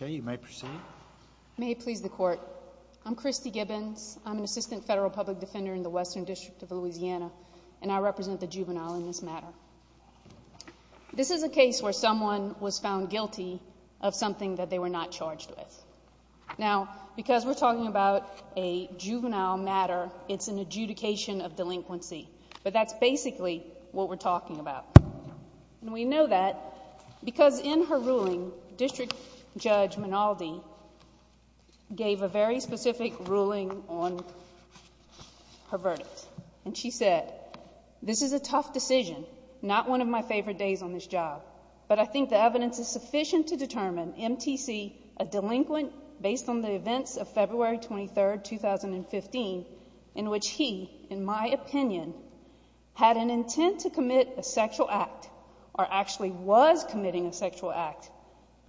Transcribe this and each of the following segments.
Okay, you may proceed. May it please the court, I'm Christy Gibbons, I'm an assistant federal public defender in the Western District of Louisiana, and I represent the juvenile in this matter. This is a case where someone was found guilty of something that they were not charged with. Now, because we're talking about a juvenile matter, it's an adjudication of delinquency, but that's basically what we're talking about. We know that because in her ruling, District Judge Minaldi gave a very specific ruling on her verdict, and she said, this is a tough decision, not one of my favorite days on this job, but I think the evidence is sufficient to determine MTC a delinquent based on the events of February 23, 2015, in which he, in my opinion, had an intent to commit a sexual act, or actually was committing a sexual act,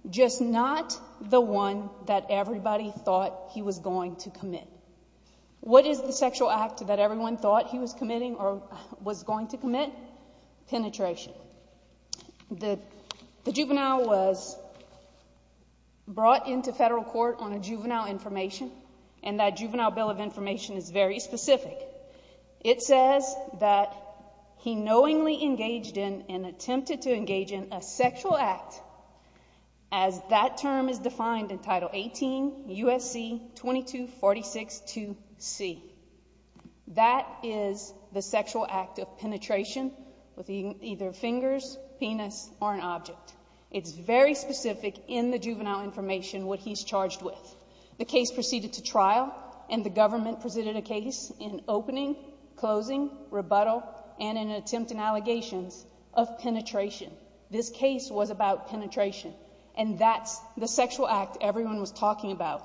just not the one that everybody thought he was going to commit. What is the sexual act that everyone thought he was committing or was going to commit? Penetration. The juvenile was brought into federal court on a juvenile information, and that juvenile bill of information is very specific. It says that he knowingly engaged in and attempted to engage in a sexual act, as that term is 22462C. That is the sexual act of penetration with either fingers, penis, or an object. It's very specific in the juvenile information what he's charged with. The case proceeded to trial, and the government presented a case in opening, closing, rebuttal, and an attempt in allegations of penetration. This case was about penetration, and that's the sexual act everyone was talking about,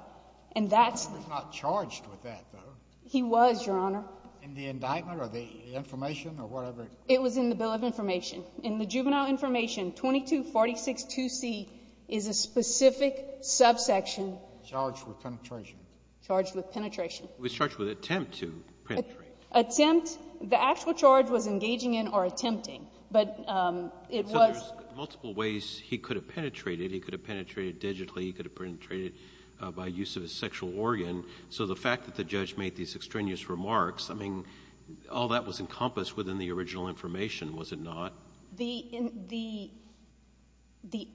and that's... He was not charged with that, though. He was, Your Honor. In the indictment or the information or whatever? It was in the bill of information. In the juvenile information, 22462C is a specific subsection... Charged with penetration. Charged with penetration. He was charged with attempt to penetrate. Attempt. The actual charge was engaging in or attempting, but it was... So there's multiple ways he could have penetrated. He could have penetrated digitally. He could have penetrated by use of a sexual organ. So the fact that the judge made these extraneous remarks, I mean, all that was encompassed within the original information, was it not? The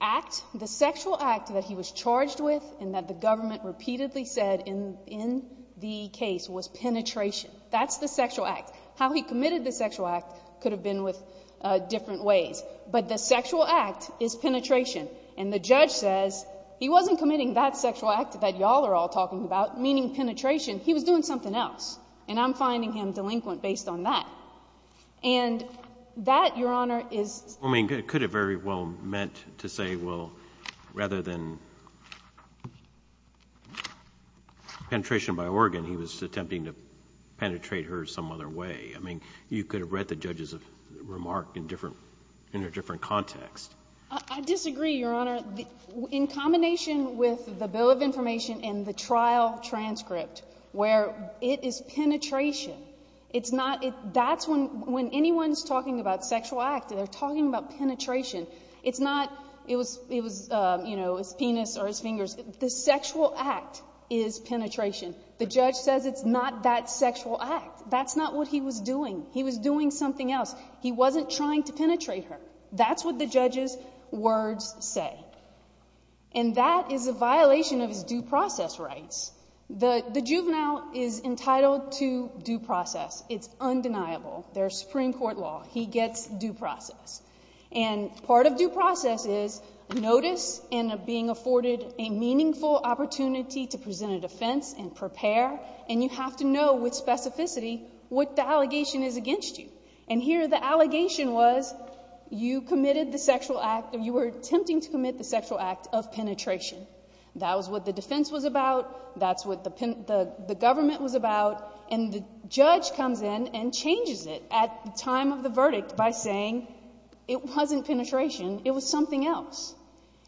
act, the sexual act that he was charged with and that the government repeatedly said in the case was penetration. That's the sexual act. How he committed the sexual act could have been with different ways, but the sexual act is penetration. And the judge says he wasn't committing that sexual act that y'all are all talking about, meaning penetration, he was doing something else, and I'm finding him delinquent based on that. And that, Your Honor, is... I mean, it could have very well meant to say, well, rather than penetration by organ, he was attempting to penetrate her some other way. I mean, you could have read the judge's remark in a different context. I disagree, Your Honor. In combination with the bill of information and the trial transcript, where it is penetration, it's not... that's when anyone's talking about sexual act, they're talking about penetration. It's not, it was, you know, his penis or his fingers. The sexual act is penetration. The judge says it's not that sexual act. That's not what he was doing. He was doing something else. He wasn't trying to penetrate her. That's what the judge's words say. And that is a violation of his due process rights. The juvenile is entitled to due process. It's undeniable. There's Supreme Court law. He gets due process. And part of due process is notice and being afforded a meaningful opportunity to present a defense and prepare, and you have to know with specificity what the allegation is against you. And here the allegation was you committed the sexual act, you were attempting to commit the sexual act of penetration. That was what the defense was about. That's what the government was about. And the judge comes in and changes it at the time of the verdict by saying it wasn't penetration. It was something else.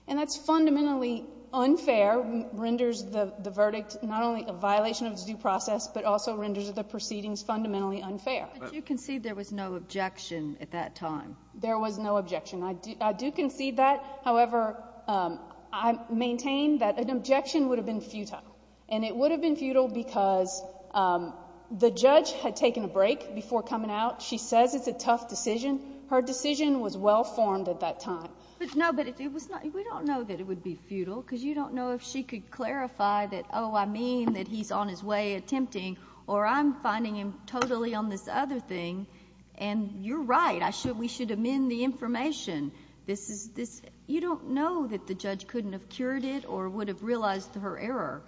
And that's fundamentally unfair, renders the verdict not only a violation of due process but also renders the proceedings fundamentally unfair. But you concede there was no objection at that time. There was no objection. I do concede that. However, I maintain that an objection would have been futile. And it would have been futile because the judge had taken a break before coming out. She says it's a tough decision. Her decision was well formed at that time. But no, but it was not, we don't know that it would be futile because you don't know if she could clarify that, oh, I mean that he's on his way attempting, or I'm finding him totally on this other thing, and you're right, I should, we should amend the information. This is, this, you don't know that the judge couldn't have cured it or would have realized her error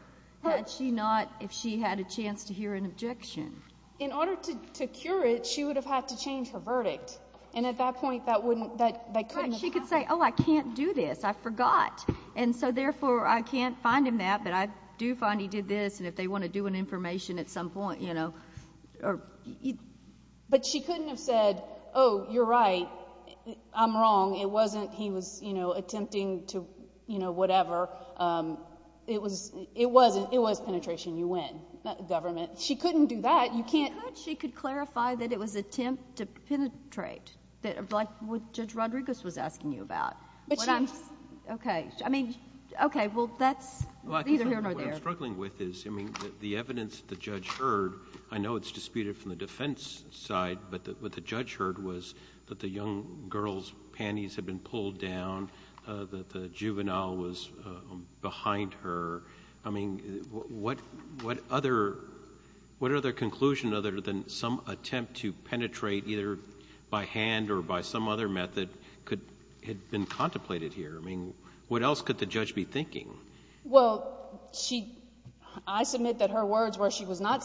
had she not, if she had a chance to hear an objection. In order to cure it, she would have had to change her verdict. And at that point, that wouldn't, that couldn't have happened. Correct. She could say, oh, I can't do this. I forgot. And so, therefore, I can't find him that, but I do find he did this, and if they want to do an information at some point, you know, or... But she couldn't have said, oh, you're right, I'm wrong, it wasn't he was, you know, attempting to, you know, whatever. It was, it wasn't, it was penetration, you win, government. She couldn't do that. You can't... I thought she could clarify that it was attempt to penetrate, like what Judge Rodriguez was asking you about. But she... Okay. I mean, okay. Well, that's... Either here or there. What I'm struggling with is, I mean, the evidence the judge heard, I know it's disputed from the defense side, but what the judge heard was that the young girl's panties had been pulled down, that the juvenile was behind her. I mean, what other, what other conclusion other than some attempt to penetrate either by hand or by some other method could, had been contemplated here? I mean, what else could the judge be thinking? Well, she... I submit that her words were she was not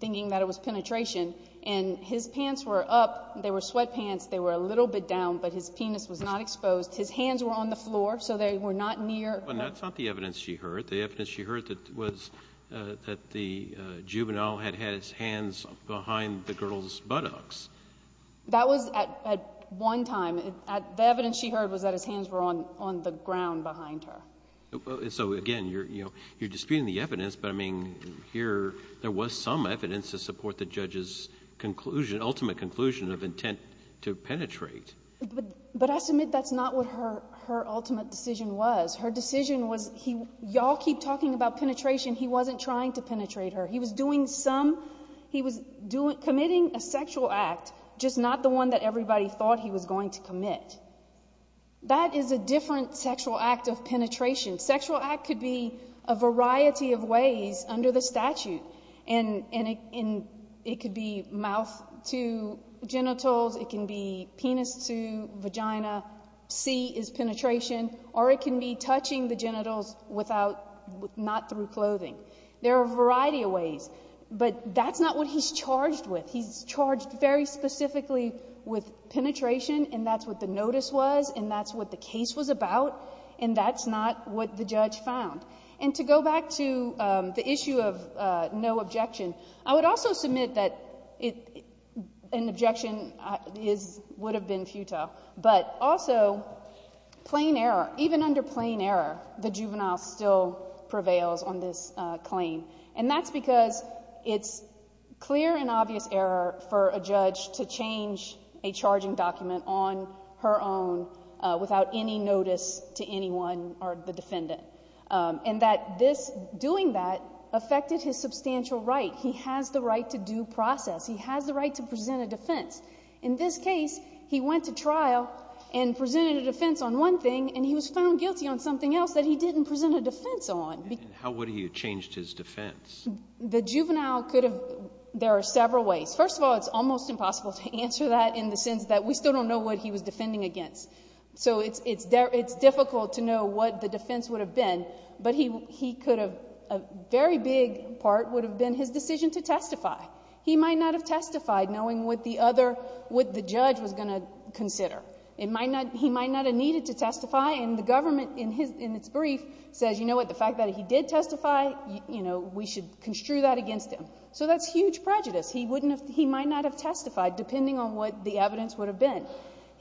thinking that it was penetration. And his pants were up, they were sweatpants, they were a little bit down, but his penis was not exposed. His hands were on the floor, so they were not near... But that's not the evidence she heard. The evidence she heard was that the juvenile had had his hands behind the girl's buttocks. That was at one time. The evidence she heard was that his hands were on the ground behind her. So again, you're disputing the evidence, but I mean, here there was some evidence to support the judge's conclusion, ultimate conclusion of intent to penetrate. But I submit that's not what her ultimate decision was. Her decision was, y'all keep talking about penetration, he wasn't trying to penetrate her. He was doing some, he was committing a sexual act, just not the one that everybody thought he was going to commit. That is a different sexual act of penetration. Sexual act could be a variety of ways under the statute, and it could be mouth to genitals, it can be penis to vagina, C is penetration, or it can be touching the genitals without, not through clothing. There are a variety of ways, but that's not what he's charged with. He's charged very specifically with penetration, and that's what the notice was, and that's what the case was about, and that's not what the judge found. And to go back to the issue of no objection, I would also submit that an objection would have been futile. But also, plain error, even under plain error, the juvenile still prevails on this claim. And that's because it's clear and obvious error for a judge to change a charging document on her own without any notice to anyone or the defendant. And that this, doing that, affected his substantial right. He has the right to due process. He has the right to present a defense. In this case, he went to trial and presented a defense on one thing, and he was found guilty on something else that he didn't present a defense on. How would he have changed his defense? The juvenile could have... there are several ways. First of all, it's almost impossible to answer that in the sense that we still don't know what he was defending against. So it's difficult to know what the defense would have been, but he could have... a very big part would have been his decision to testify. He might not have testified knowing what the judge was going to consider. He might not have needed to testify, and the government, in its brief, says, you know what, the fact that he did testify, you know, we should construe that against him. So that's huge prejudice. He wouldn't have... he might not have testified, depending on what the evidence would have been.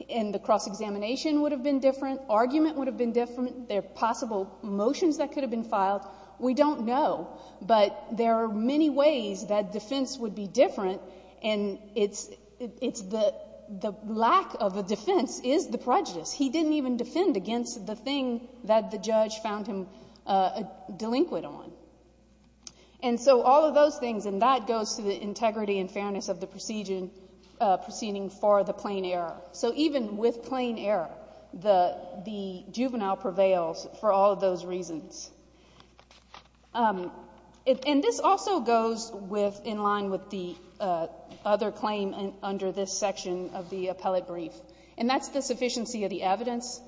And the cross-examination would have been different, argument would have been different, there are possible motions that could have been filed. We don't know, but there are many ways that defense would be different, and it's... the lack of a defense is the prejudice. He didn't even defend against the thing that the judge found him delinquent on. And so all of those things, and that goes to the integrity and fairness of the proceeding for the plain error. So even with plain error, the juvenile prevails for all of those reasons. And this also goes with... in line with the other claim under this section of the evidence,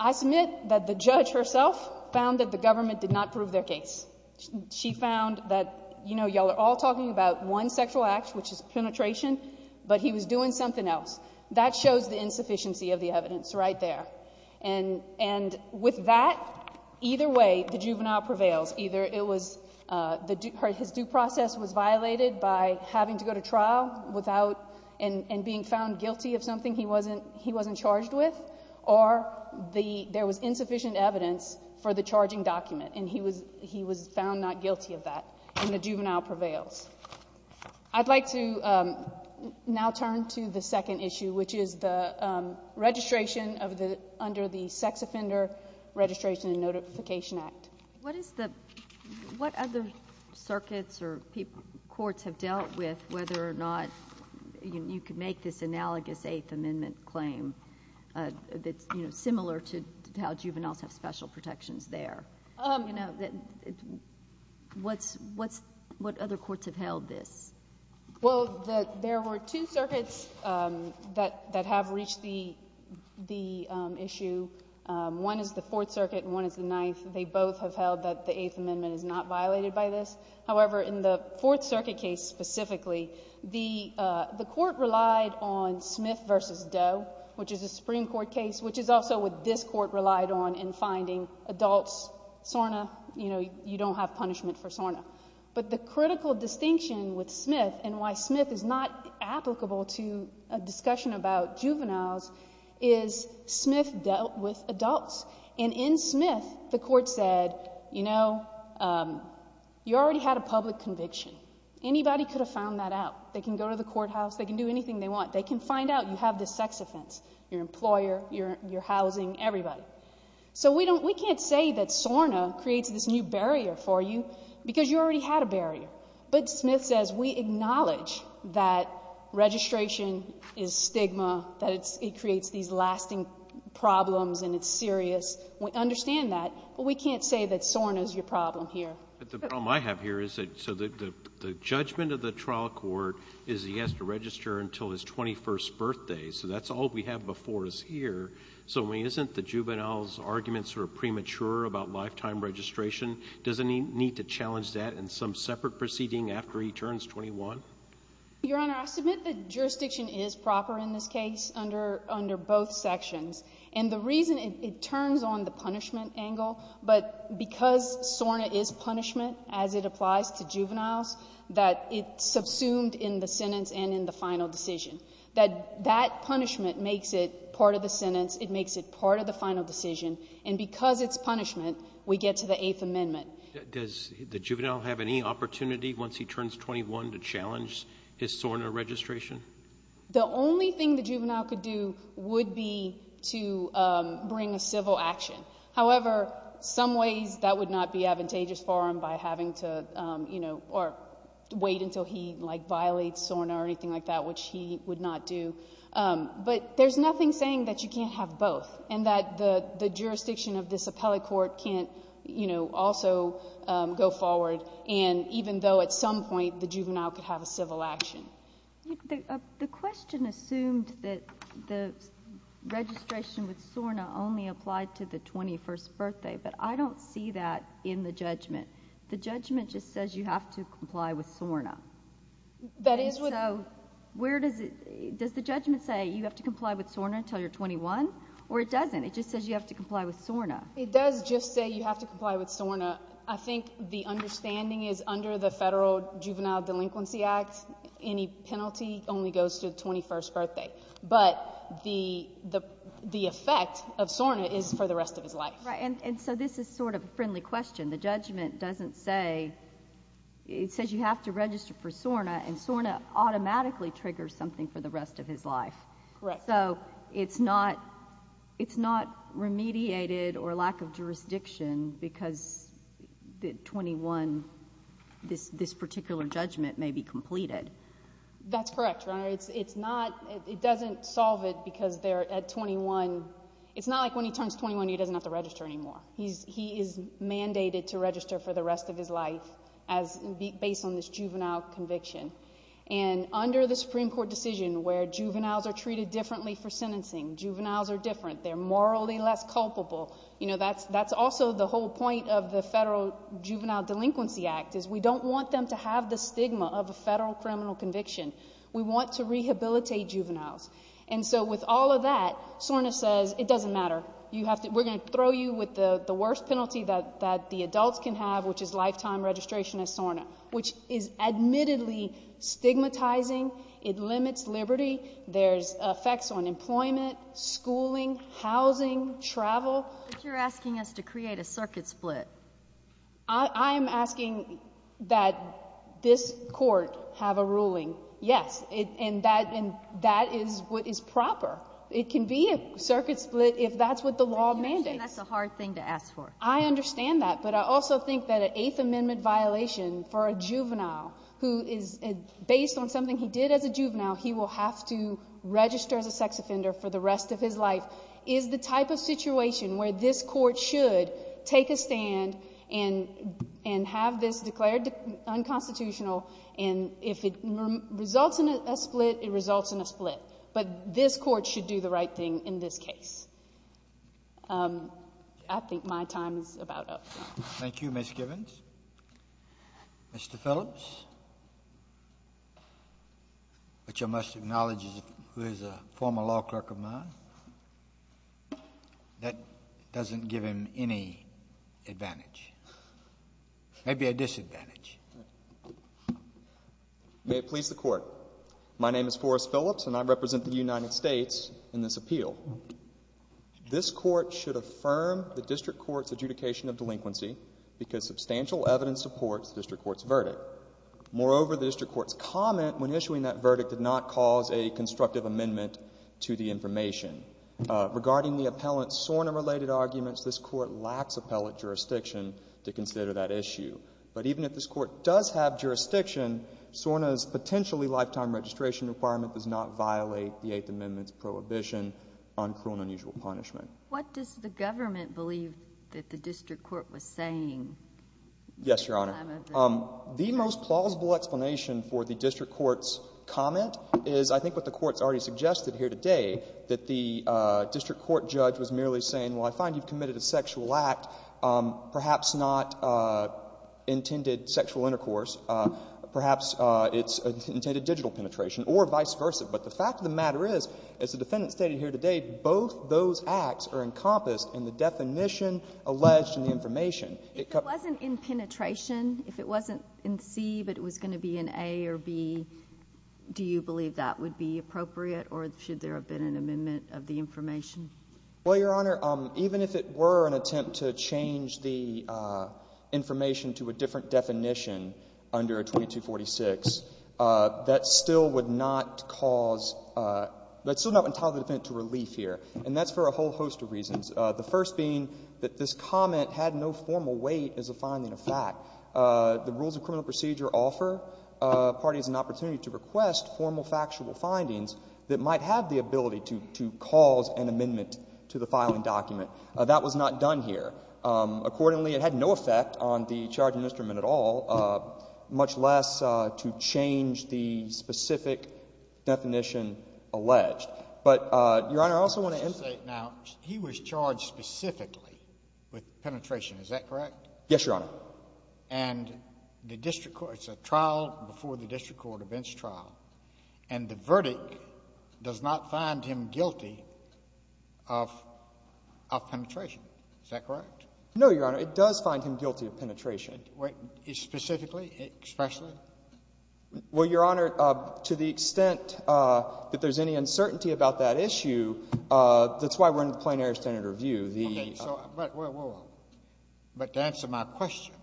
I submit that the judge herself found that the government did not prove their case. She found that, you know, y'all are all talking about one sexual act, which is penetration, but he was doing something else. That shows the insufficiency of the evidence right there. And with that, either way, the juvenile prevails. Either it was... his due process was violated by having to go to trial without... and being found guilty of something he wasn't charged with, or there was insufficient evidence for the charging document, and he was found not guilty of that, and the juvenile prevails. I'd like to now turn to the second issue, which is the registration of the... under the Sex Offender Registration and Notification Act. What is the... what other circuits or courts have dealt with, whether or not you could make this analogous Eighth Amendment claim that's, you know, similar to how juveniles have special protections there? You know, what's... what other courts have held this? Well, there were two circuits that have reached the issue. They both have held that the Eighth Amendment is not violated by this. However, in the Fourth Circuit case specifically, the court relied on Smith v. Doe, which is a Supreme Court case, which is also what this court relied on in finding adults, SORNA. You know, you don't have punishment for SORNA. But the critical distinction with Smith, and why Smith is not applicable to a discussion about juveniles, is Smith dealt with adults. And in Smith, the court said, you know, you already had a public conviction. Anybody could have found that out. They can go to the courthouse. They can do anything they want. They can find out you have this sex offense, your employer, your housing, everybody. So we don't... we can't say that SORNA creates this new barrier for you because you already had a barrier. But Smith says we acknowledge that registration is stigma, that it creates these lasting problems and it's serious. We understand that. But we can't say that SORNA is your problem here. But the problem I have here is that, so the judgment of the trial court is he has to register until his 21st birthday. So that's all we have before us here. So I mean, isn't the juvenile's arguments sort of premature about lifetime registration? Doesn't he need to challenge that in some separate proceeding after he turns 21? Your Honor, I submit that jurisdiction is proper in this case under both sections. And the reason it turns on the punishment angle, but because SORNA is punishment as it applies to juveniles, that it's subsumed in the sentence and in the final decision. That that punishment makes it part of the sentence. It makes it part of the final decision. And because it's punishment, we get to the Eighth Amendment. Does the juvenile have any opportunity once he turns 21 to challenge his SORNA registration? The only thing the juvenile could do would be to bring a civil action. However, some ways that would not be advantageous for him by having to, you know, or wait until he like violates SORNA or anything like that, which he would not do. But there's nothing saying that you can't have both, and that the jurisdiction of this appellate court can't, you know, also go forward, and even though at some point the juvenile could have a civil action. The question assumed that the registration with SORNA only applied to the 21st birthday, but I don't see that in the judgment. The judgment just says you have to comply with SORNA. That is what... So where does it, does the judgment say you have to comply with SORNA until you're 21? Or it doesn't? It just says you have to comply with SORNA. It does just say you have to comply with SORNA. I think the understanding is under the Federal Juvenile Delinquency Act, any penalty only goes to the 21st birthday. But the effect of SORNA is for the rest of his life. Right. And so this is sort of a friendly question. The judgment doesn't say, it says you have to register for SORNA, and SORNA automatically triggers something for the rest of his life. Correct. So it's not, it's not remediated or lack of jurisdiction because 21, this particular judgment may be completed. That's correct, Your Honor. It's not, it doesn't solve it because they're at 21, it's not like when he turns 21 he doesn't have to register anymore. He is mandated to register for the rest of his life as based on this juvenile conviction. And under the Supreme Court decision where juveniles are treated differently for sentencing, juveniles are different, they're morally less culpable, you know, that's also the whole point of the Federal Juvenile Delinquency Act is we don't want them to have the stigma of a federal criminal conviction. We want to rehabilitate juveniles. And so with all of that, SORNA says it doesn't matter. You have to, we're going to throw you with the worst penalty that the adults can have, which is lifetime registration as SORNA, which is admittedly stigmatizing. It limits liberty. There's effects on employment, schooling, housing, travel. But you're asking us to create a circuit split. I am asking that this court have a ruling, yes, and that is what is proper. It can be a circuit split if that's what the law mandates. That's a hard thing to ask for. I understand that, but I also think that an Eighth Amendment violation for a juvenile who is based on something he did as a juvenile, he will have to register as a sex offender for the rest of his life, is the type of situation where this court should take a stand and have this declared unconstitutional, and if it results in a split, it results in a split. But this court should do the right thing in this case. I think my time is about up. Thank you, Ms. Givens. Mr. Phillips, which I must acknowledge is a former law clerk of mine, that doesn't give him any advantage, maybe a disadvantage. May it please the Court. My name is Forrest Phillips, and I represent the United States in this appeal. This court should affirm the District Court's adjudication of delinquency because substantial evidence supports the District Court's verdict. Moreover, the District Court's comment when issuing that verdict did not cause a constructive amendment to the information. Regarding the appellant's SORNA-related arguments, this court lacks appellate jurisdiction to consider that issue. But even if this court does have jurisdiction, SORNA's potentially lifetime registration requirement does not violate the Eighth Amendment's prohibition on cruel and unusual punishment. What does the government believe that the District Court was saying? Yes, Your Honor. The most plausible explanation for the District Court's comment is I think what the Court has already suggested here today, that the District Court judge was merely saying, well, I find you've committed a sexual act, perhaps not intended sexual intercourse. Perhaps it's intended digital penetration, or vice versa. But the fact of the matter is, as the defendant stated here today, both those acts are encompassed in the definition alleged in the information. If it wasn't in penetration, if it wasn't in C, but it was going to be in A or B, do you believe that would be appropriate, or should there have been an amendment of the information? Well, Your Honor, even if it were an attempt to change the information to a different definition under 2246, that still would not cause — that's still not going to entitle the defendant to relief here, and that's for a whole host of reasons, the first being that this comment had no formal weight as a finding of fact. The rules of criminal procedure offer parties an opportunity to request formal factual findings that might have the ability to cause an amendment to the filing document. That was not done here. Accordingly, it had no effect on the charging instrument at all, much less to change the specific definition alleged. But Your Honor, I also want to emphasize — Now, he was charged specifically with penetration, is that correct? Yes, Your Honor. And the district court — it's a trial before the district court, a bench trial. And the verdict does not find him guilty of penetration, is that correct? No, Your Honor. It does find him guilty of penetration. Specifically? Expressly? Well, Your Honor, to the extent that there's any uncertainty about that issue, that's why we're in the Plain Air Standard Review. Okay. So — But to answer my question,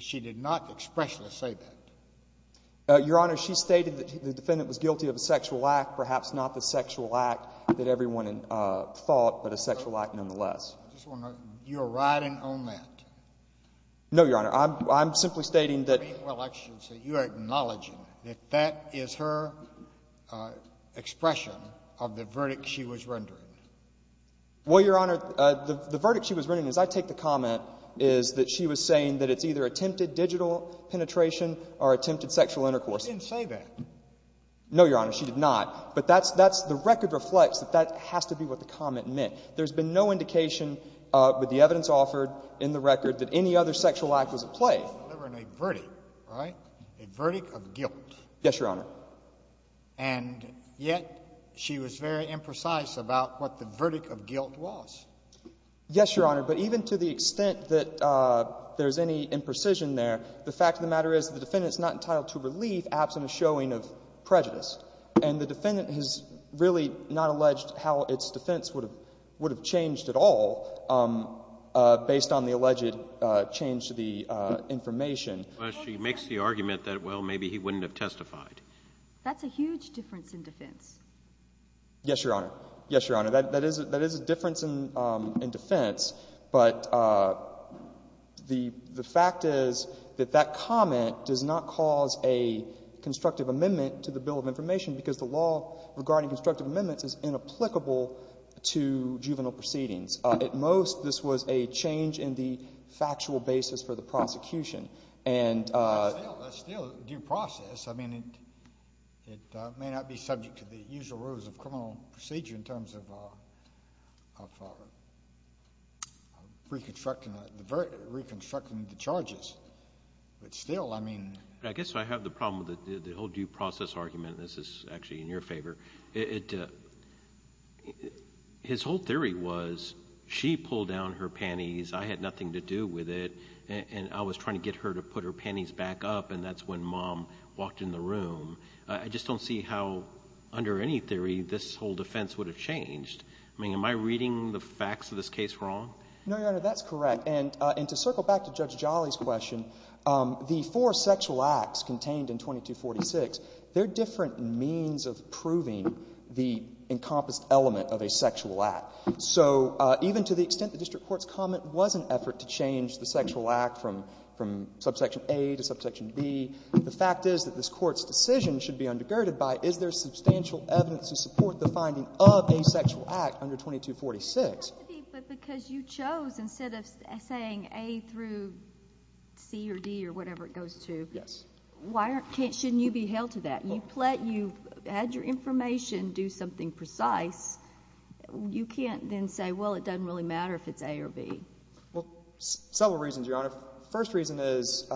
she did not expressly say that. Your Honor, she stated that the defendant was guilty of a sexual act, perhaps not the sexual act that everyone thought, but a sexual act nonetheless. You're riding on that. No, Your Honor. I'm simply stating that — Well, actually, you are acknowledging that that is her expression of the verdict she was rendering. Well, Your Honor, the verdict she was rendering, as I take the comment, is that she was saying that it's either attempted digital penetration or attempted sexual intercourse. She didn't say that. No, Your Honor, she did not. But that's — that's — the record reflects that that has to be what the comment meant. There's been no indication with the evidence offered in the record that any other sexual act was at play. She was delivering a verdict, right? A verdict of guilt. Yes, Your Honor. And yet she was very imprecise about what the verdict of guilt was. Yes, Your Honor. But even to the extent that there's any imprecision there, the fact of the matter is the defendant is not entitled to relief, absent a showing of prejudice. And the defendant has really not alleged how its defense would have — would have changed at all based on the alleged change to the information. Well, she makes the argument that, well, maybe he wouldn't have testified. That's a huge difference in defense. Yes, Your Honor. Yes, Your Honor. That is — that is a difference in defense. But the fact is that that comment does not cause a constructive amendment to the Bill of Information because the law regarding constructive amendments is inapplicable to juvenile proceedings. At most, this was a change in the factual basis for the prosecution. And — Well, that's still due process. I mean, it may not be subject to the usual rules of criminal procedure in terms of reconstructing the — reconstructing the charges. But still, I mean — I guess I have the problem with the whole due process argument. This is actually in your favor. It — his whole theory was she pulled down her panties, I had nothing to do with it, and I was trying to get her to put her panties back up, and that's when Mom walked in the room. I just don't see how, under any theory, this whole defense would have changed. I mean, am I reading the facts of this case wrong? No, Your Honor, that's correct. And to circle back to Judge Jolly's question, the four sexual acts contained in encompassed element of a sexual act. So even to the extent the district court's comment was an effort to change the sexual act from subsection A to subsection B, the fact is that this court's decision should be undergirded by, is there substantial evidence to support the finding of a sexual act under 2246? But because you chose, instead of saying A through C or D or whatever it goes to — Yes. Why aren't — shouldn't you be held to that? You've had your information do something precise. You can't then say, well, it doesn't really matter if it's A or B. Well, several reasons, Your Honor. First reason is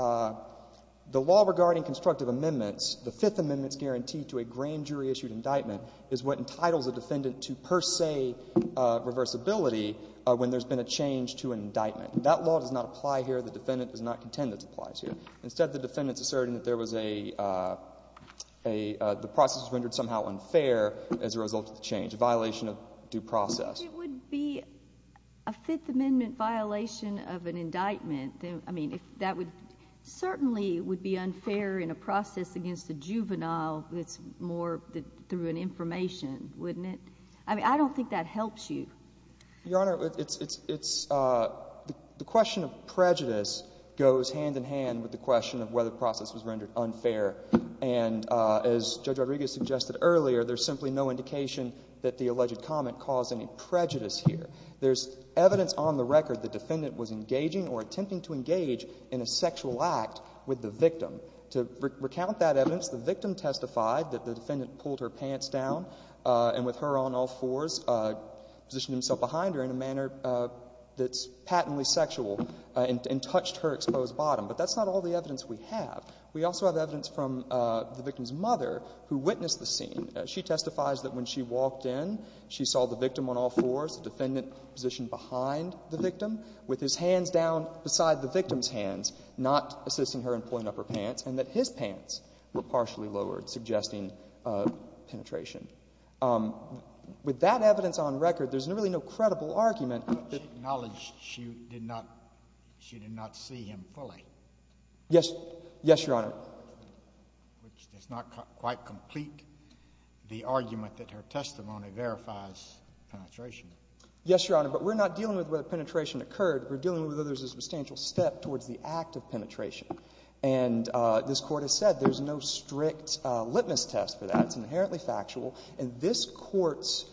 the law regarding constructive amendments, the Fifth Amendment's guarantee to a grand jury-issued indictment is what entitles a defendant to per se reversibility when there's been a change to an indictment. That law does not apply here. The defendant does not contend it applies here. Instead, the defendant's asserting that there was a — the process was rendered somehow unfair as a result of the change, a violation of due process. It would be a Fifth Amendment violation of an indictment. I mean, that would certainly would be unfair in a process against a juvenile that's more through an information, wouldn't it? I mean, I don't think that helps you. Your Honor, it's — the question of prejudice goes hand in hand with the question of whether the process was rendered unfair. And as Judge Rodriguez suggested earlier, there's simply no indication that the alleged comment caused any prejudice here. There's evidence on the record the defendant was engaging or attempting to engage in a sexual act with the victim. To recount that evidence, the victim testified that the defendant pulled her pants down and with her on all fours, positioned himself behind her in a manner that's patently sexual and touched her exposed bottom. But that's not all the evidence we have. We also have evidence from the victim's mother who witnessed the scene. She testifies that when she walked in, she saw the victim on all fours, the defendant positioned behind the victim with his hands down beside the victim's hands, not assisting her in pulling up her pants, and that his pants were partially lowered, suggesting penetration. With that evidence on record, there's really no credible argument that — But she acknowledged she did not — she did not see him pulling. Yes. Yes, Your Honor. Which does not quite complete the argument that her testimony verifies penetration. Yes, Your Honor. But we're not dealing with whether penetration occurred. We're dealing with whether there's a substantial step towards the act of penetration. And this Court has said there's no strict litmus test for that. It's inherently factual. And this Court's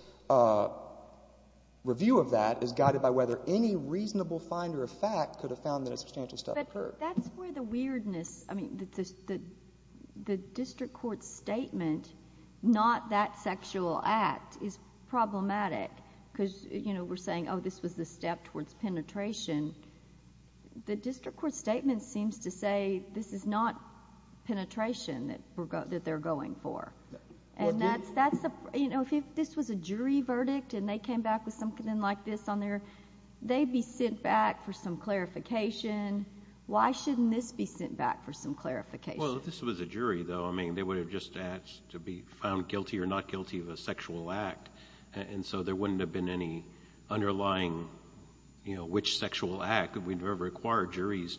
review of that is guided by whether any reasonable finder of fact could have found that a substantial step occurred. But that's where the weirdness — I mean, the district court's statement, not that sexual act, is problematic because, you know, we're saying, oh, this was the step towards penetration. The district court's statement seems to say this is not penetration that they're going for. And that's — you know, if this was a jury verdict and they came back with something like this on their — they'd be sent back for some clarification. Why shouldn't this be sent back for some clarification? Well, if this was a jury, though, I mean, they would have just asked to be found guilty or not guilty of a sexual act. And so there wouldn't have been any underlying, you know, which sexual act. We never required juries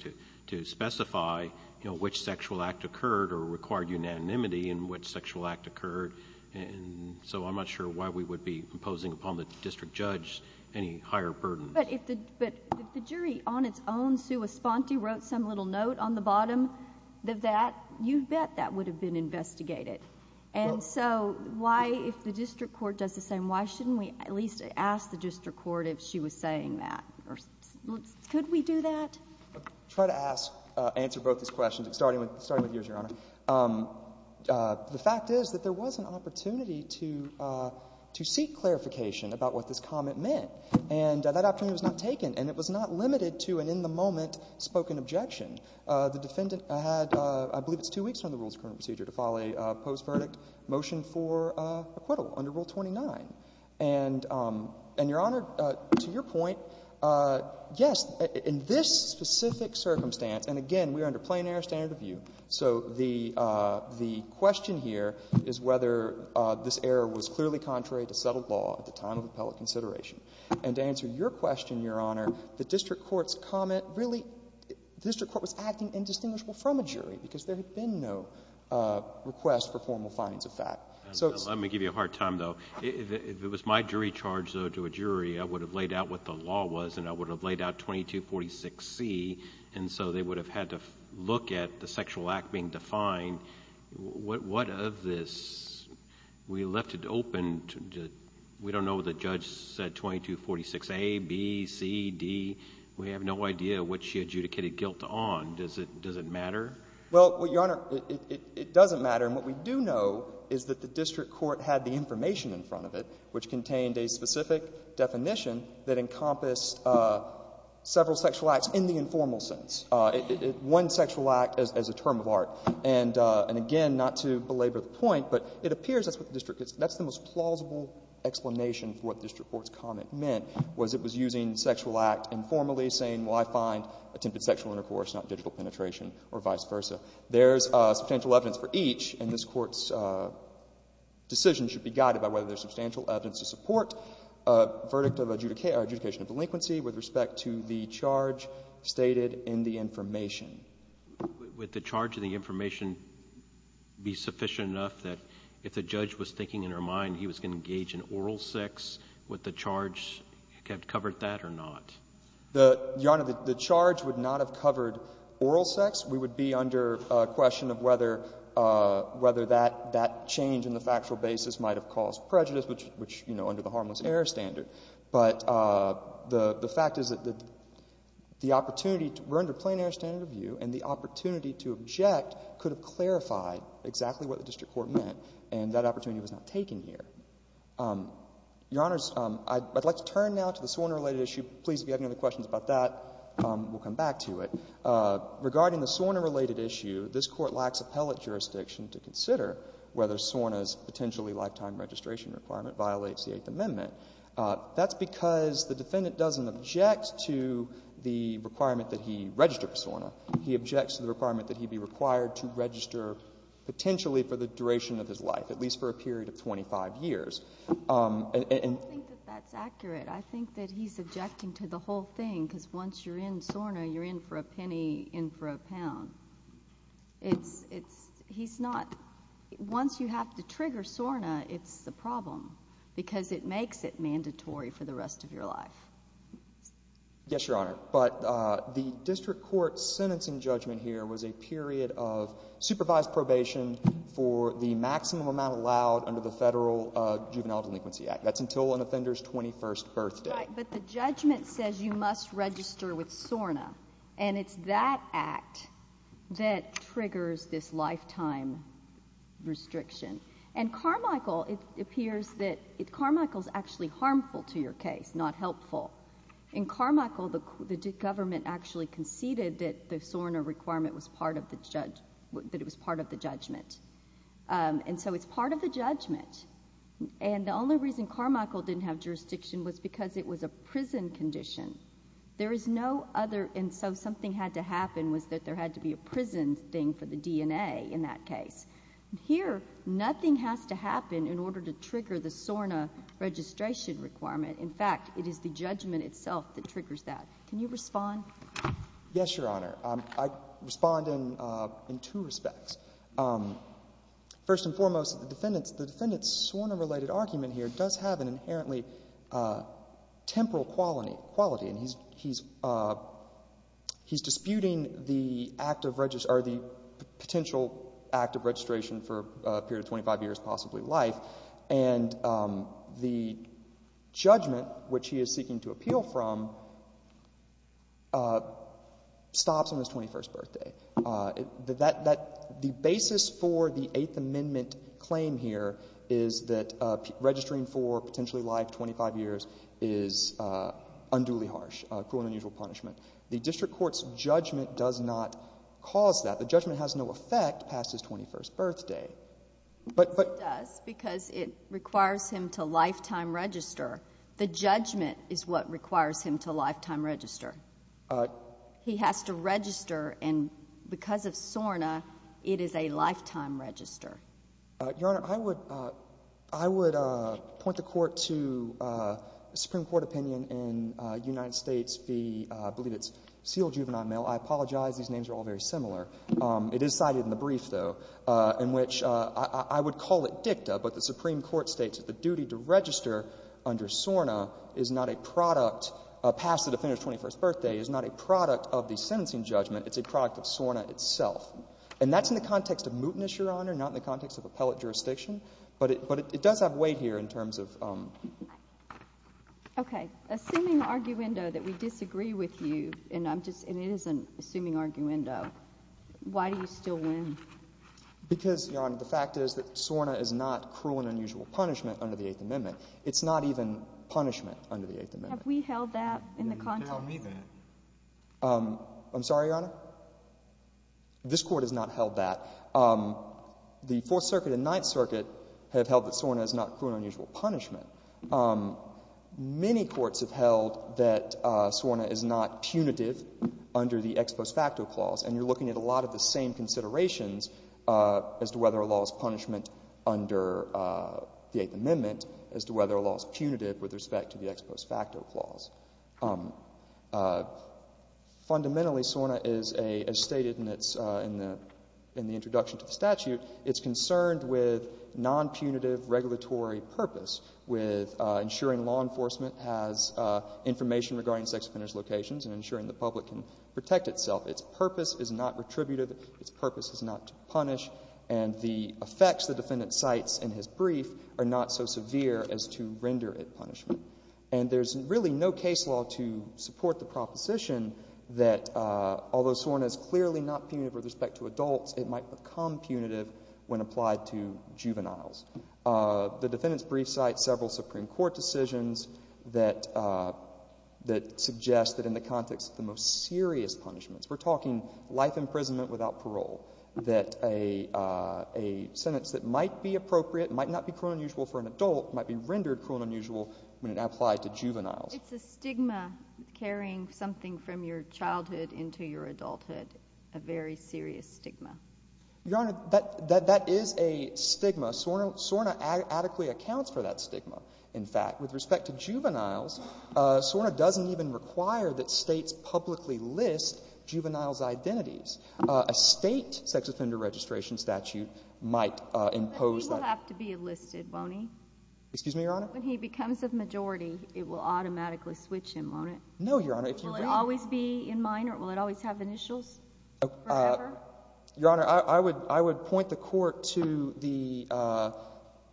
to specify, you know, which sexual act occurred or required unanimity in which sexual act occurred. And so I'm not sure why we would be imposing upon the district judge any higher burden. But if the jury on its own, sui sponte, wrote some little note on the bottom of that, you bet that would have been investigated. And so why, if the district court does the same, why shouldn't we at least ask the district court if she was saying that? Could we do that? I'll try to ask — answer both these questions, starting with yours, Your Honor. The fact is that there was an opportunity to seek clarification about what this comment meant. And that opportunity was not taken, and it was not limited to an in-the-moment spoken objection. The defendant had — I believe it's two weeks from the rule's current procedure to file a post-verdict motion for acquittal under Rule 29. And, Your Honor, to your point, yes, in this specific circumstance — and again, we are under plain-error standard of view. So the question here is whether this error was clearly contrary to settled law at the time of appellate consideration. And to answer your question, Your Honor, the district court's comment really — because there had been no request for formal findings of that. Let me give you a hard time, though. If it was my jury charge, though, to a jury, I would have laid out what the law was, and I would have laid out 2246C. And so they would have had to look at the sexual act being defined. What of this — we left it open. We don't know what the judge said, 2246A, B, C, D. We have no idea what she adjudicated guilt on. Does it matter? Well, Your Honor, it doesn't matter. And what we do know is that the district court had the information in front of it, which contained a specific definition that encompassed several sexual acts in the informal sense. One sexual act as a term of art. And again, not to belabor the point, but it appears that's what the district — that's the most plausible explanation for what the district court's comment meant, was it was using sexual act informally, saying, well, I find attempted sexual intercourse not digital penetration, or vice versa. There's substantial evidence for each, and this Court's decision should be guided by whether there's substantial evidence to support a verdict of adjudication of delinquency with respect to the charge stated in the information. Would the charge in the information be sufficient enough that if the judge was thinking in her mind he was going to engage in oral sex, would the charge have covered that or not? Your Honor, the charge would not have covered oral sex. We would be under question of whether that change in the factual basis might have caused prejudice, which, you know, under the harmless error standard. But the fact is that the opportunity — we're under plain error standard review, and the opportunity to object could have clarified exactly what the district court meant, and that opportunity was not taken here. Your Honors, I'd like to turn now to the SORNA-related issue. Please, if you have any other questions about that, we'll come back to it. Regarding the SORNA-related issue, this Court lacks appellate jurisdiction to consider whether SORNA's potentially lifetime registration requirement violates the Eighth Amendment. That's because the defendant doesn't object to the requirement that he register for SORNA. He objects to the requirement that he be required to register potentially for the duration of his life, at least for a period of 25 years. I don't think that that's accurate. I think that he's objecting to the whole thing because once you're in SORNA, you're in for a penny, in for a pound. It's—he's not—once you have to trigger SORNA, it's a problem because it makes it mandatory for the rest of your life. Yes, Your Honor. But the district court's sentencing judgment here was a period of supervised probation for the maximum amount allowed under the Federal Juvenile Delinquency Act. That's until an offender's 21st birthday. Right, but the judgment says you must register with SORNA, and it's that act that triggers this lifetime restriction. And Carmichael—it appears that Carmichael's actually harmful to your case, not helpful. In Carmichael, the government actually conceded that the SORNA requirement was part of the judgment. And so it's part of the judgment. And the only reason Carmichael didn't have jurisdiction was because it was a prison condition. There is no other—and so something had to happen was that there had to be a prison thing for the DNA in that case. Here, nothing has to happen in order to trigger the SORNA registration requirement. In fact, it is the judgment itself that triggers that. Can you respond? Yes, Your Honor. I respond in two respects. First and foremost, the defendant's SORNA-related argument here does have an inherently temporal quality. And he's disputing the potential act of registration for a period of 25 years, possibly life. And the judgment, which he is seeking to appeal from, stops on his 21st birthday. The basis for the Eighth Amendment claim here is that registering for potentially life, 25 years, is unduly harsh, cruel and unusual punishment. The district court's judgment does not cause that. The judgment has no effect past his 21st birthday. It does because it requires him to lifetime register. The judgment is what requires him to lifetime register. He has to register, and because of SORNA, it is a lifetime register. Your Honor, I would point the Court to a Supreme Court opinion in United States v. I believe it's Seale Juvenile Mail. I apologize. These names are all very similar. It is cited in the brief, though, in which I would call it dicta, but the Supreme Court states that the duty to register under SORNA is not a product past the defendant's 21st birthday, is not a product of the sentencing judgment. It's a product of SORNA itself. And that's in the context of mootness, Your Honor, not in the context of appellate jurisdiction. But it does have weight here in terms of ‑‑ Okay. Assuming arguendo that we disagree with you, and it is an assuming arguendo, why do you still win? Because, Your Honor, the fact is that SORNA is not cruel and unusual punishment under the Eighth Amendment. It's not even punishment under the Eighth Amendment. Have we held that in the context? You didn't tell me that. I'm sorry, Your Honor? This Court has not held that. The Fourth Circuit and Ninth Circuit have held that SORNA is not cruel and unusual punishment. Many courts have held that SORNA is not punitive under the ex post facto clause. And you're looking at a lot of the same considerations as to whether a law is punishment under the Eighth Amendment, as to whether a law is punitive with respect to the ex post facto clause. Fundamentally, SORNA is, as stated in the introduction to the statute, it's concerned with nonpunitive regulatory purpose, with ensuring law enforcement has information regarding sex offender's locations and ensuring the public can protect itself. Its purpose is not retributive. Its purpose is not to punish. And the effects the defendant cites in his brief are not so severe as to render it punishment. And there's really no case law to support the proposition that although SORNA is clearly not punitive with respect to adults, it might become punitive when applied to juveniles. The defendant's brief cites several Supreme Court decisions that suggest that in the context of the most serious punishments, we're talking life imprisonment without parole, that a sentence that might be appropriate, might not be cruel and unusual for an adult, might be rendered cruel and unusual when it applied to juveniles. It's a stigma carrying something from your childhood into your adulthood, a very serious stigma. Your Honor, that is a stigma. SORNA adequately accounts for that stigma, in fact. With respect to juveniles, SORNA doesn't even require that states publicly list juveniles' identities. A state sex offender registration statute might impose that. He will have to be enlisted, won't he? Excuse me, Your Honor? When he becomes a majority, it will automatically switch him, won't it? No, Your Honor. Will it always be in mind or will it always have initials forever? Your Honor, I would point the Court to the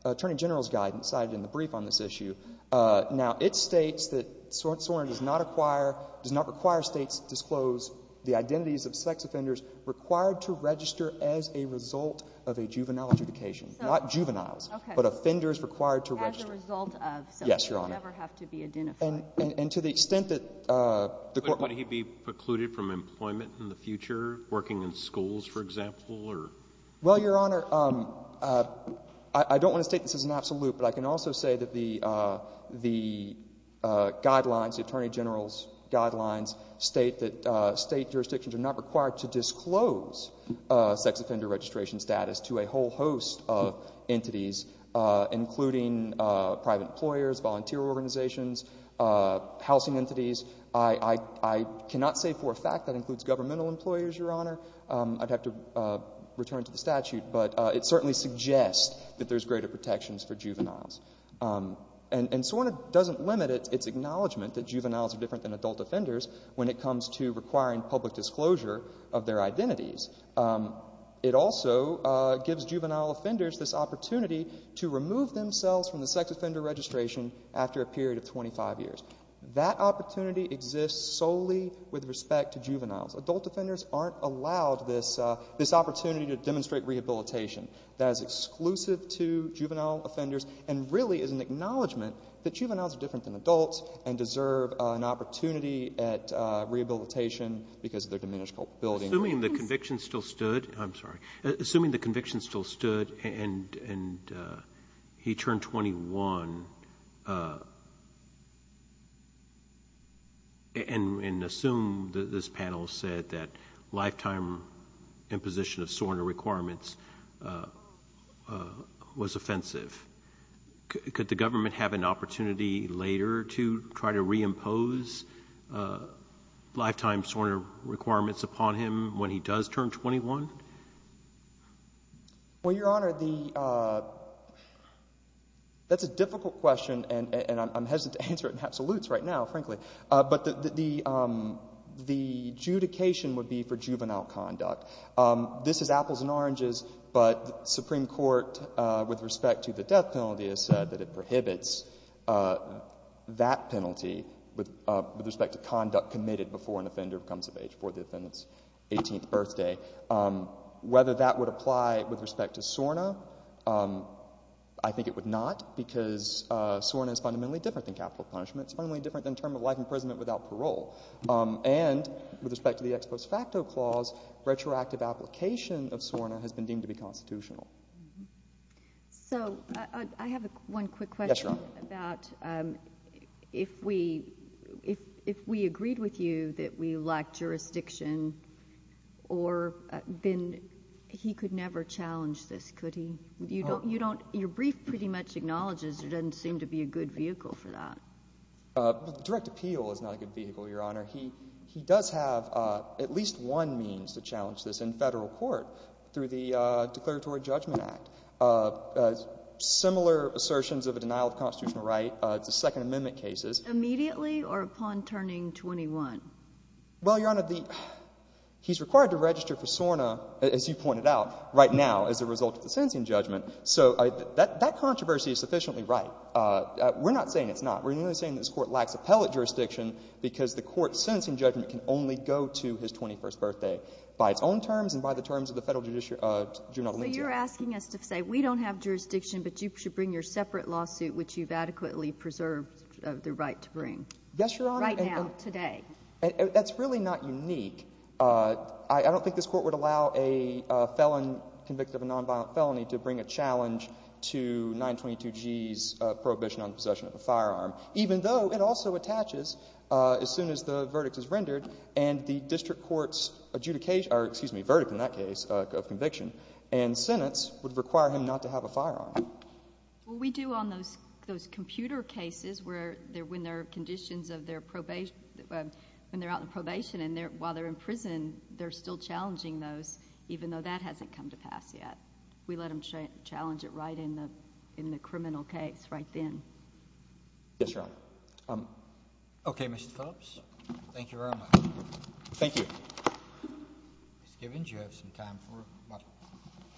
Attorney General's guidance cited in the brief on this issue. Now, it states that SORNA does not require states to disclose the identities of sex offenders required to register as a result of a juvenile adjudication. Not juveniles, but offenders required to register. As a result of something. Yes, Your Honor. They never have to be identified. And to the extent that the Court— Would he be precluded from employment in the future, working in schools, for example? Well, Your Honor, I don't want to state this as an absolute, but I can also say that the guidelines, the Attorney General's guidelines, state that state jurisdictions are not required to disclose sex offender registration status to a whole host of entities, including private employers, volunteer organizations, housing entities. I cannot say for a fact that includes governmental employers, Your Honor. I'd have to return to the statute, but it certainly suggests that there's greater protections for juveniles. And SORNA doesn't limit its acknowledgement that juveniles are different than adult offenders when it comes to requiring public disclosure of their identities. It also gives juvenile offenders this opportunity to remove themselves from the sex offender registration after a period of 25 years. That opportunity exists solely with respect to juveniles. Adult offenders aren't allowed this opportunity to demonstrate rehabilitation. That is exclusive to juvenile offenders and really is an acknowledgement that juveniles are different than adults and deserve an opportunity at rehabilitation because of their diminished culpability. Assuming the conviction still stood—I'm sorry. Assuming the conviction still stood and he turned 21 and assumed that this panel said that lifetime imposition of SORNA requirements was offensive, could the government have an opportunity later to try to reimpose lifetime SORNA requirements upon him when he does turn 21? Well, Your Honor, that's a difficult question, and I'm hesitant to answer it in absolutes right now, frankly. But the adjudication would be for juvenile conduct. This is apples and oranges, but the Supreme Court, with respect to the death penalty, has said that it prohibits that penalty with respect to conduct committed before an offender becomes of age, before the offender's 18th birthday. Whether that would apply with respect to SORNA, I think it would not, because SORNA is fundamentally different than capital punishment. It's fundamentally different than term of life imprisonment without parole. And with respect to the ex post facto clause, retroactive application of SORNA has been deemed to be constitutional. So I have one quick question about if we agreed with you that we lacked jurisdiction, then he could never challenge this, could he? Your brief pretty much acknowledges there doesn't seem to be a good vehicle for that. Direct appeal is not a good vehicle, Your Honor. He does have at least one means to challenge this in Federal court through the Declaratory Judgment Act. Similar assertions of a denial of constitutional right to Second Amendment cases. Immediately or upon turning 21? Well, Your Honor, he's required to register for SORNA, as you pointed out, right now as a result of the sentencing judgment. So that controversy is sufficiently right. We're not saying it's not. We're merely saying this Court lacks appellate jurisdiction because the Court's sentencing judgment can only go to his 21st birthday, by its own terms and by the terms of the Federal Judiciary. So you're asking us to say we don't have jurisdiction, but you should bring your separate lawsuit, which you've adequately preserved the right to bring. Yes, Your Honor. Right now, today. That's really not unique. I don't think this Court would allow a felon convicted of a nonviolent felony to bring a challenge to 922g's prohibition on possession of a firearm. Even though it also attaches, as soon as the verdict is rendered, and the district court's verdict in that case of conviction and sentence would require him not to have a firearm. Well, we do on those computer cases when they're out on probation and while they're in prison, they're still challenging those even though that hasn't come to pass yet. We let them challenge it right in the criminal case right then. Yes, Your Honor. Okay, Mr. Phillips. Thank you very much. Thank you. Ms. Givens, you have some time for a motion.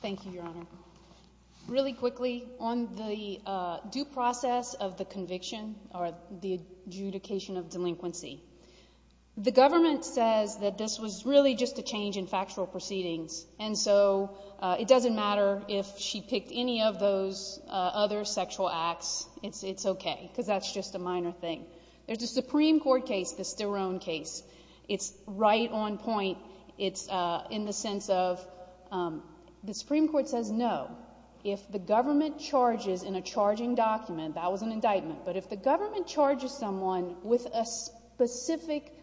Thank you, Your Honor. Really quickly, on the due process of the conviction or the adjudication of delinquency, the government says that this was really just a change in factual proceedings, and so it doesn't matter if she picked any of those other sexual acts. It's okay because that's just a minor thing. There's a Supreme Court case, the Sterone case. It's right on point. It's in the sense of the Supreme Court says no. If the government charges in a charging document, that was an indictment, but if the government charges someone with a specific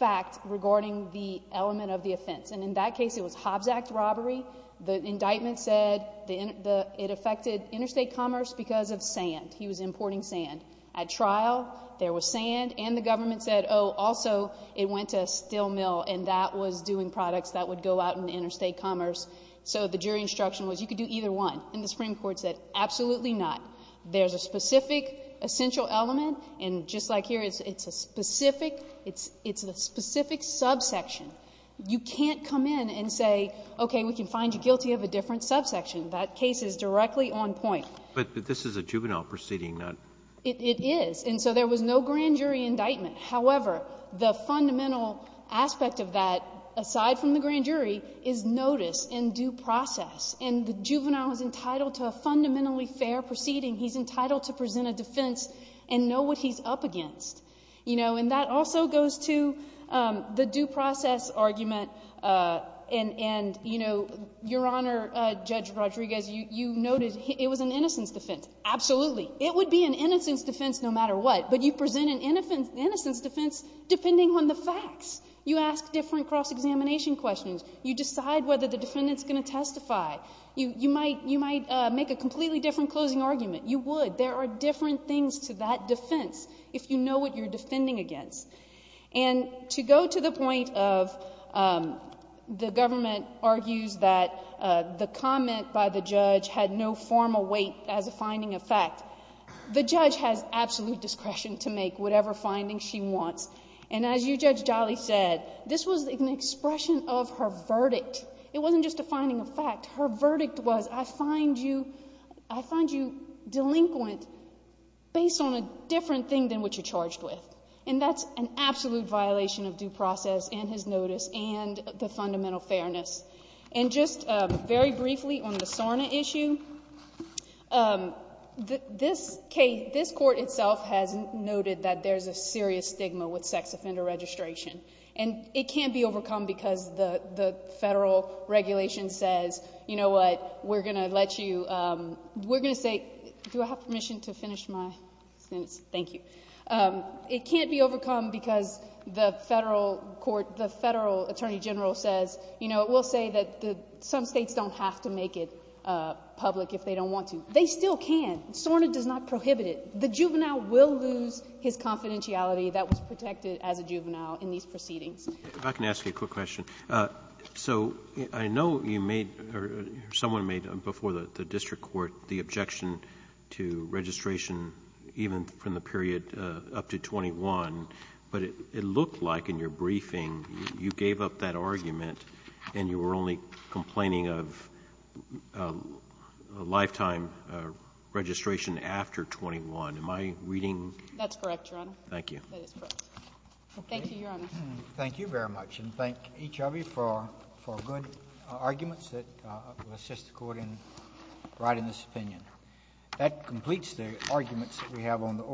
fact regarding the element of the offense, and in that case it was Hobbs Act robbery, the indictment said it affected interstate commerce because of sand. He was importing sand. At trial, there was sand, and the government said, oh, also it went to a steel mill, and that was doing products that would go out in interstate commerce. So the jury instruction was you could do either one, and the Supreme Court said absolutely not. There's a specific essential element, and just like here, it's a specific subsection. You can't come in and say, okay, we can find you guilty of a different subsection. That case is directly on point. But this is a juvenile proceeding. It is, and so there was no grand jury indictment. However, the fundamental aspect of that, aside from the grand jury, is notice and due process, and the juvenile is entitled to a fundamentally fair proceeding. He's entitled to present a defense and know what he's up against. And that also goes to the due process argument, and, Your Honor, Judge Rodriguez, you noted it was an innocence defense. Absolutely. It would be an innocence defense no matter what, but you present an innocence defense depending on the facts. You ask different cross-examination questions. You decide whether the defendant is going to testify. You might make a completely different closing argument. You would. But there are different things to that defense if you know what you're defending against. And to go to the point of the government argues that the comment by the judge had no formal weight as a finding of fact, the judge has absolute discretion to make whatever findings she wants. And as you, Judge Jolly, said, this was an expression of her verdict. It wasn't just a finding of fact. Her verdict was, I find you delinquent based on a different thing than what you're charged with. And that's an absolute violation of due process and his notice and the fundamental fairness. And just very briefly on the SORNA issue, this court itself has noted that there's a serious stigma with sex offender registration. And it can't be overcome because the federal regulation says, you know what, we're going to let you – we're going to say – do I have permission to finish my sentence? Thank you. It can't be overcome because the federal court – the federal attorney general says, you know, it will say that some states don't have to make it public if they don't want to. They still can. SORNA does not prohibit it. The juvenile will lose his confidentiality that was protected as a juvenile in these proceedings. If I can ask you a quick question. So I know you made – or someone made before the district court the objection to registration even from the period up to 21. But it looked like in your briefing you gave up that argument and you were only complaining of a lifetime registration after 21. Am I reading – That's correct, Your Honor. Thank you. That is correct. Thank you, Your Honor. Thank you very much. And thank each of you for good arguments that assist the court in writing this opinion. That completes the arguments that we have on the oral.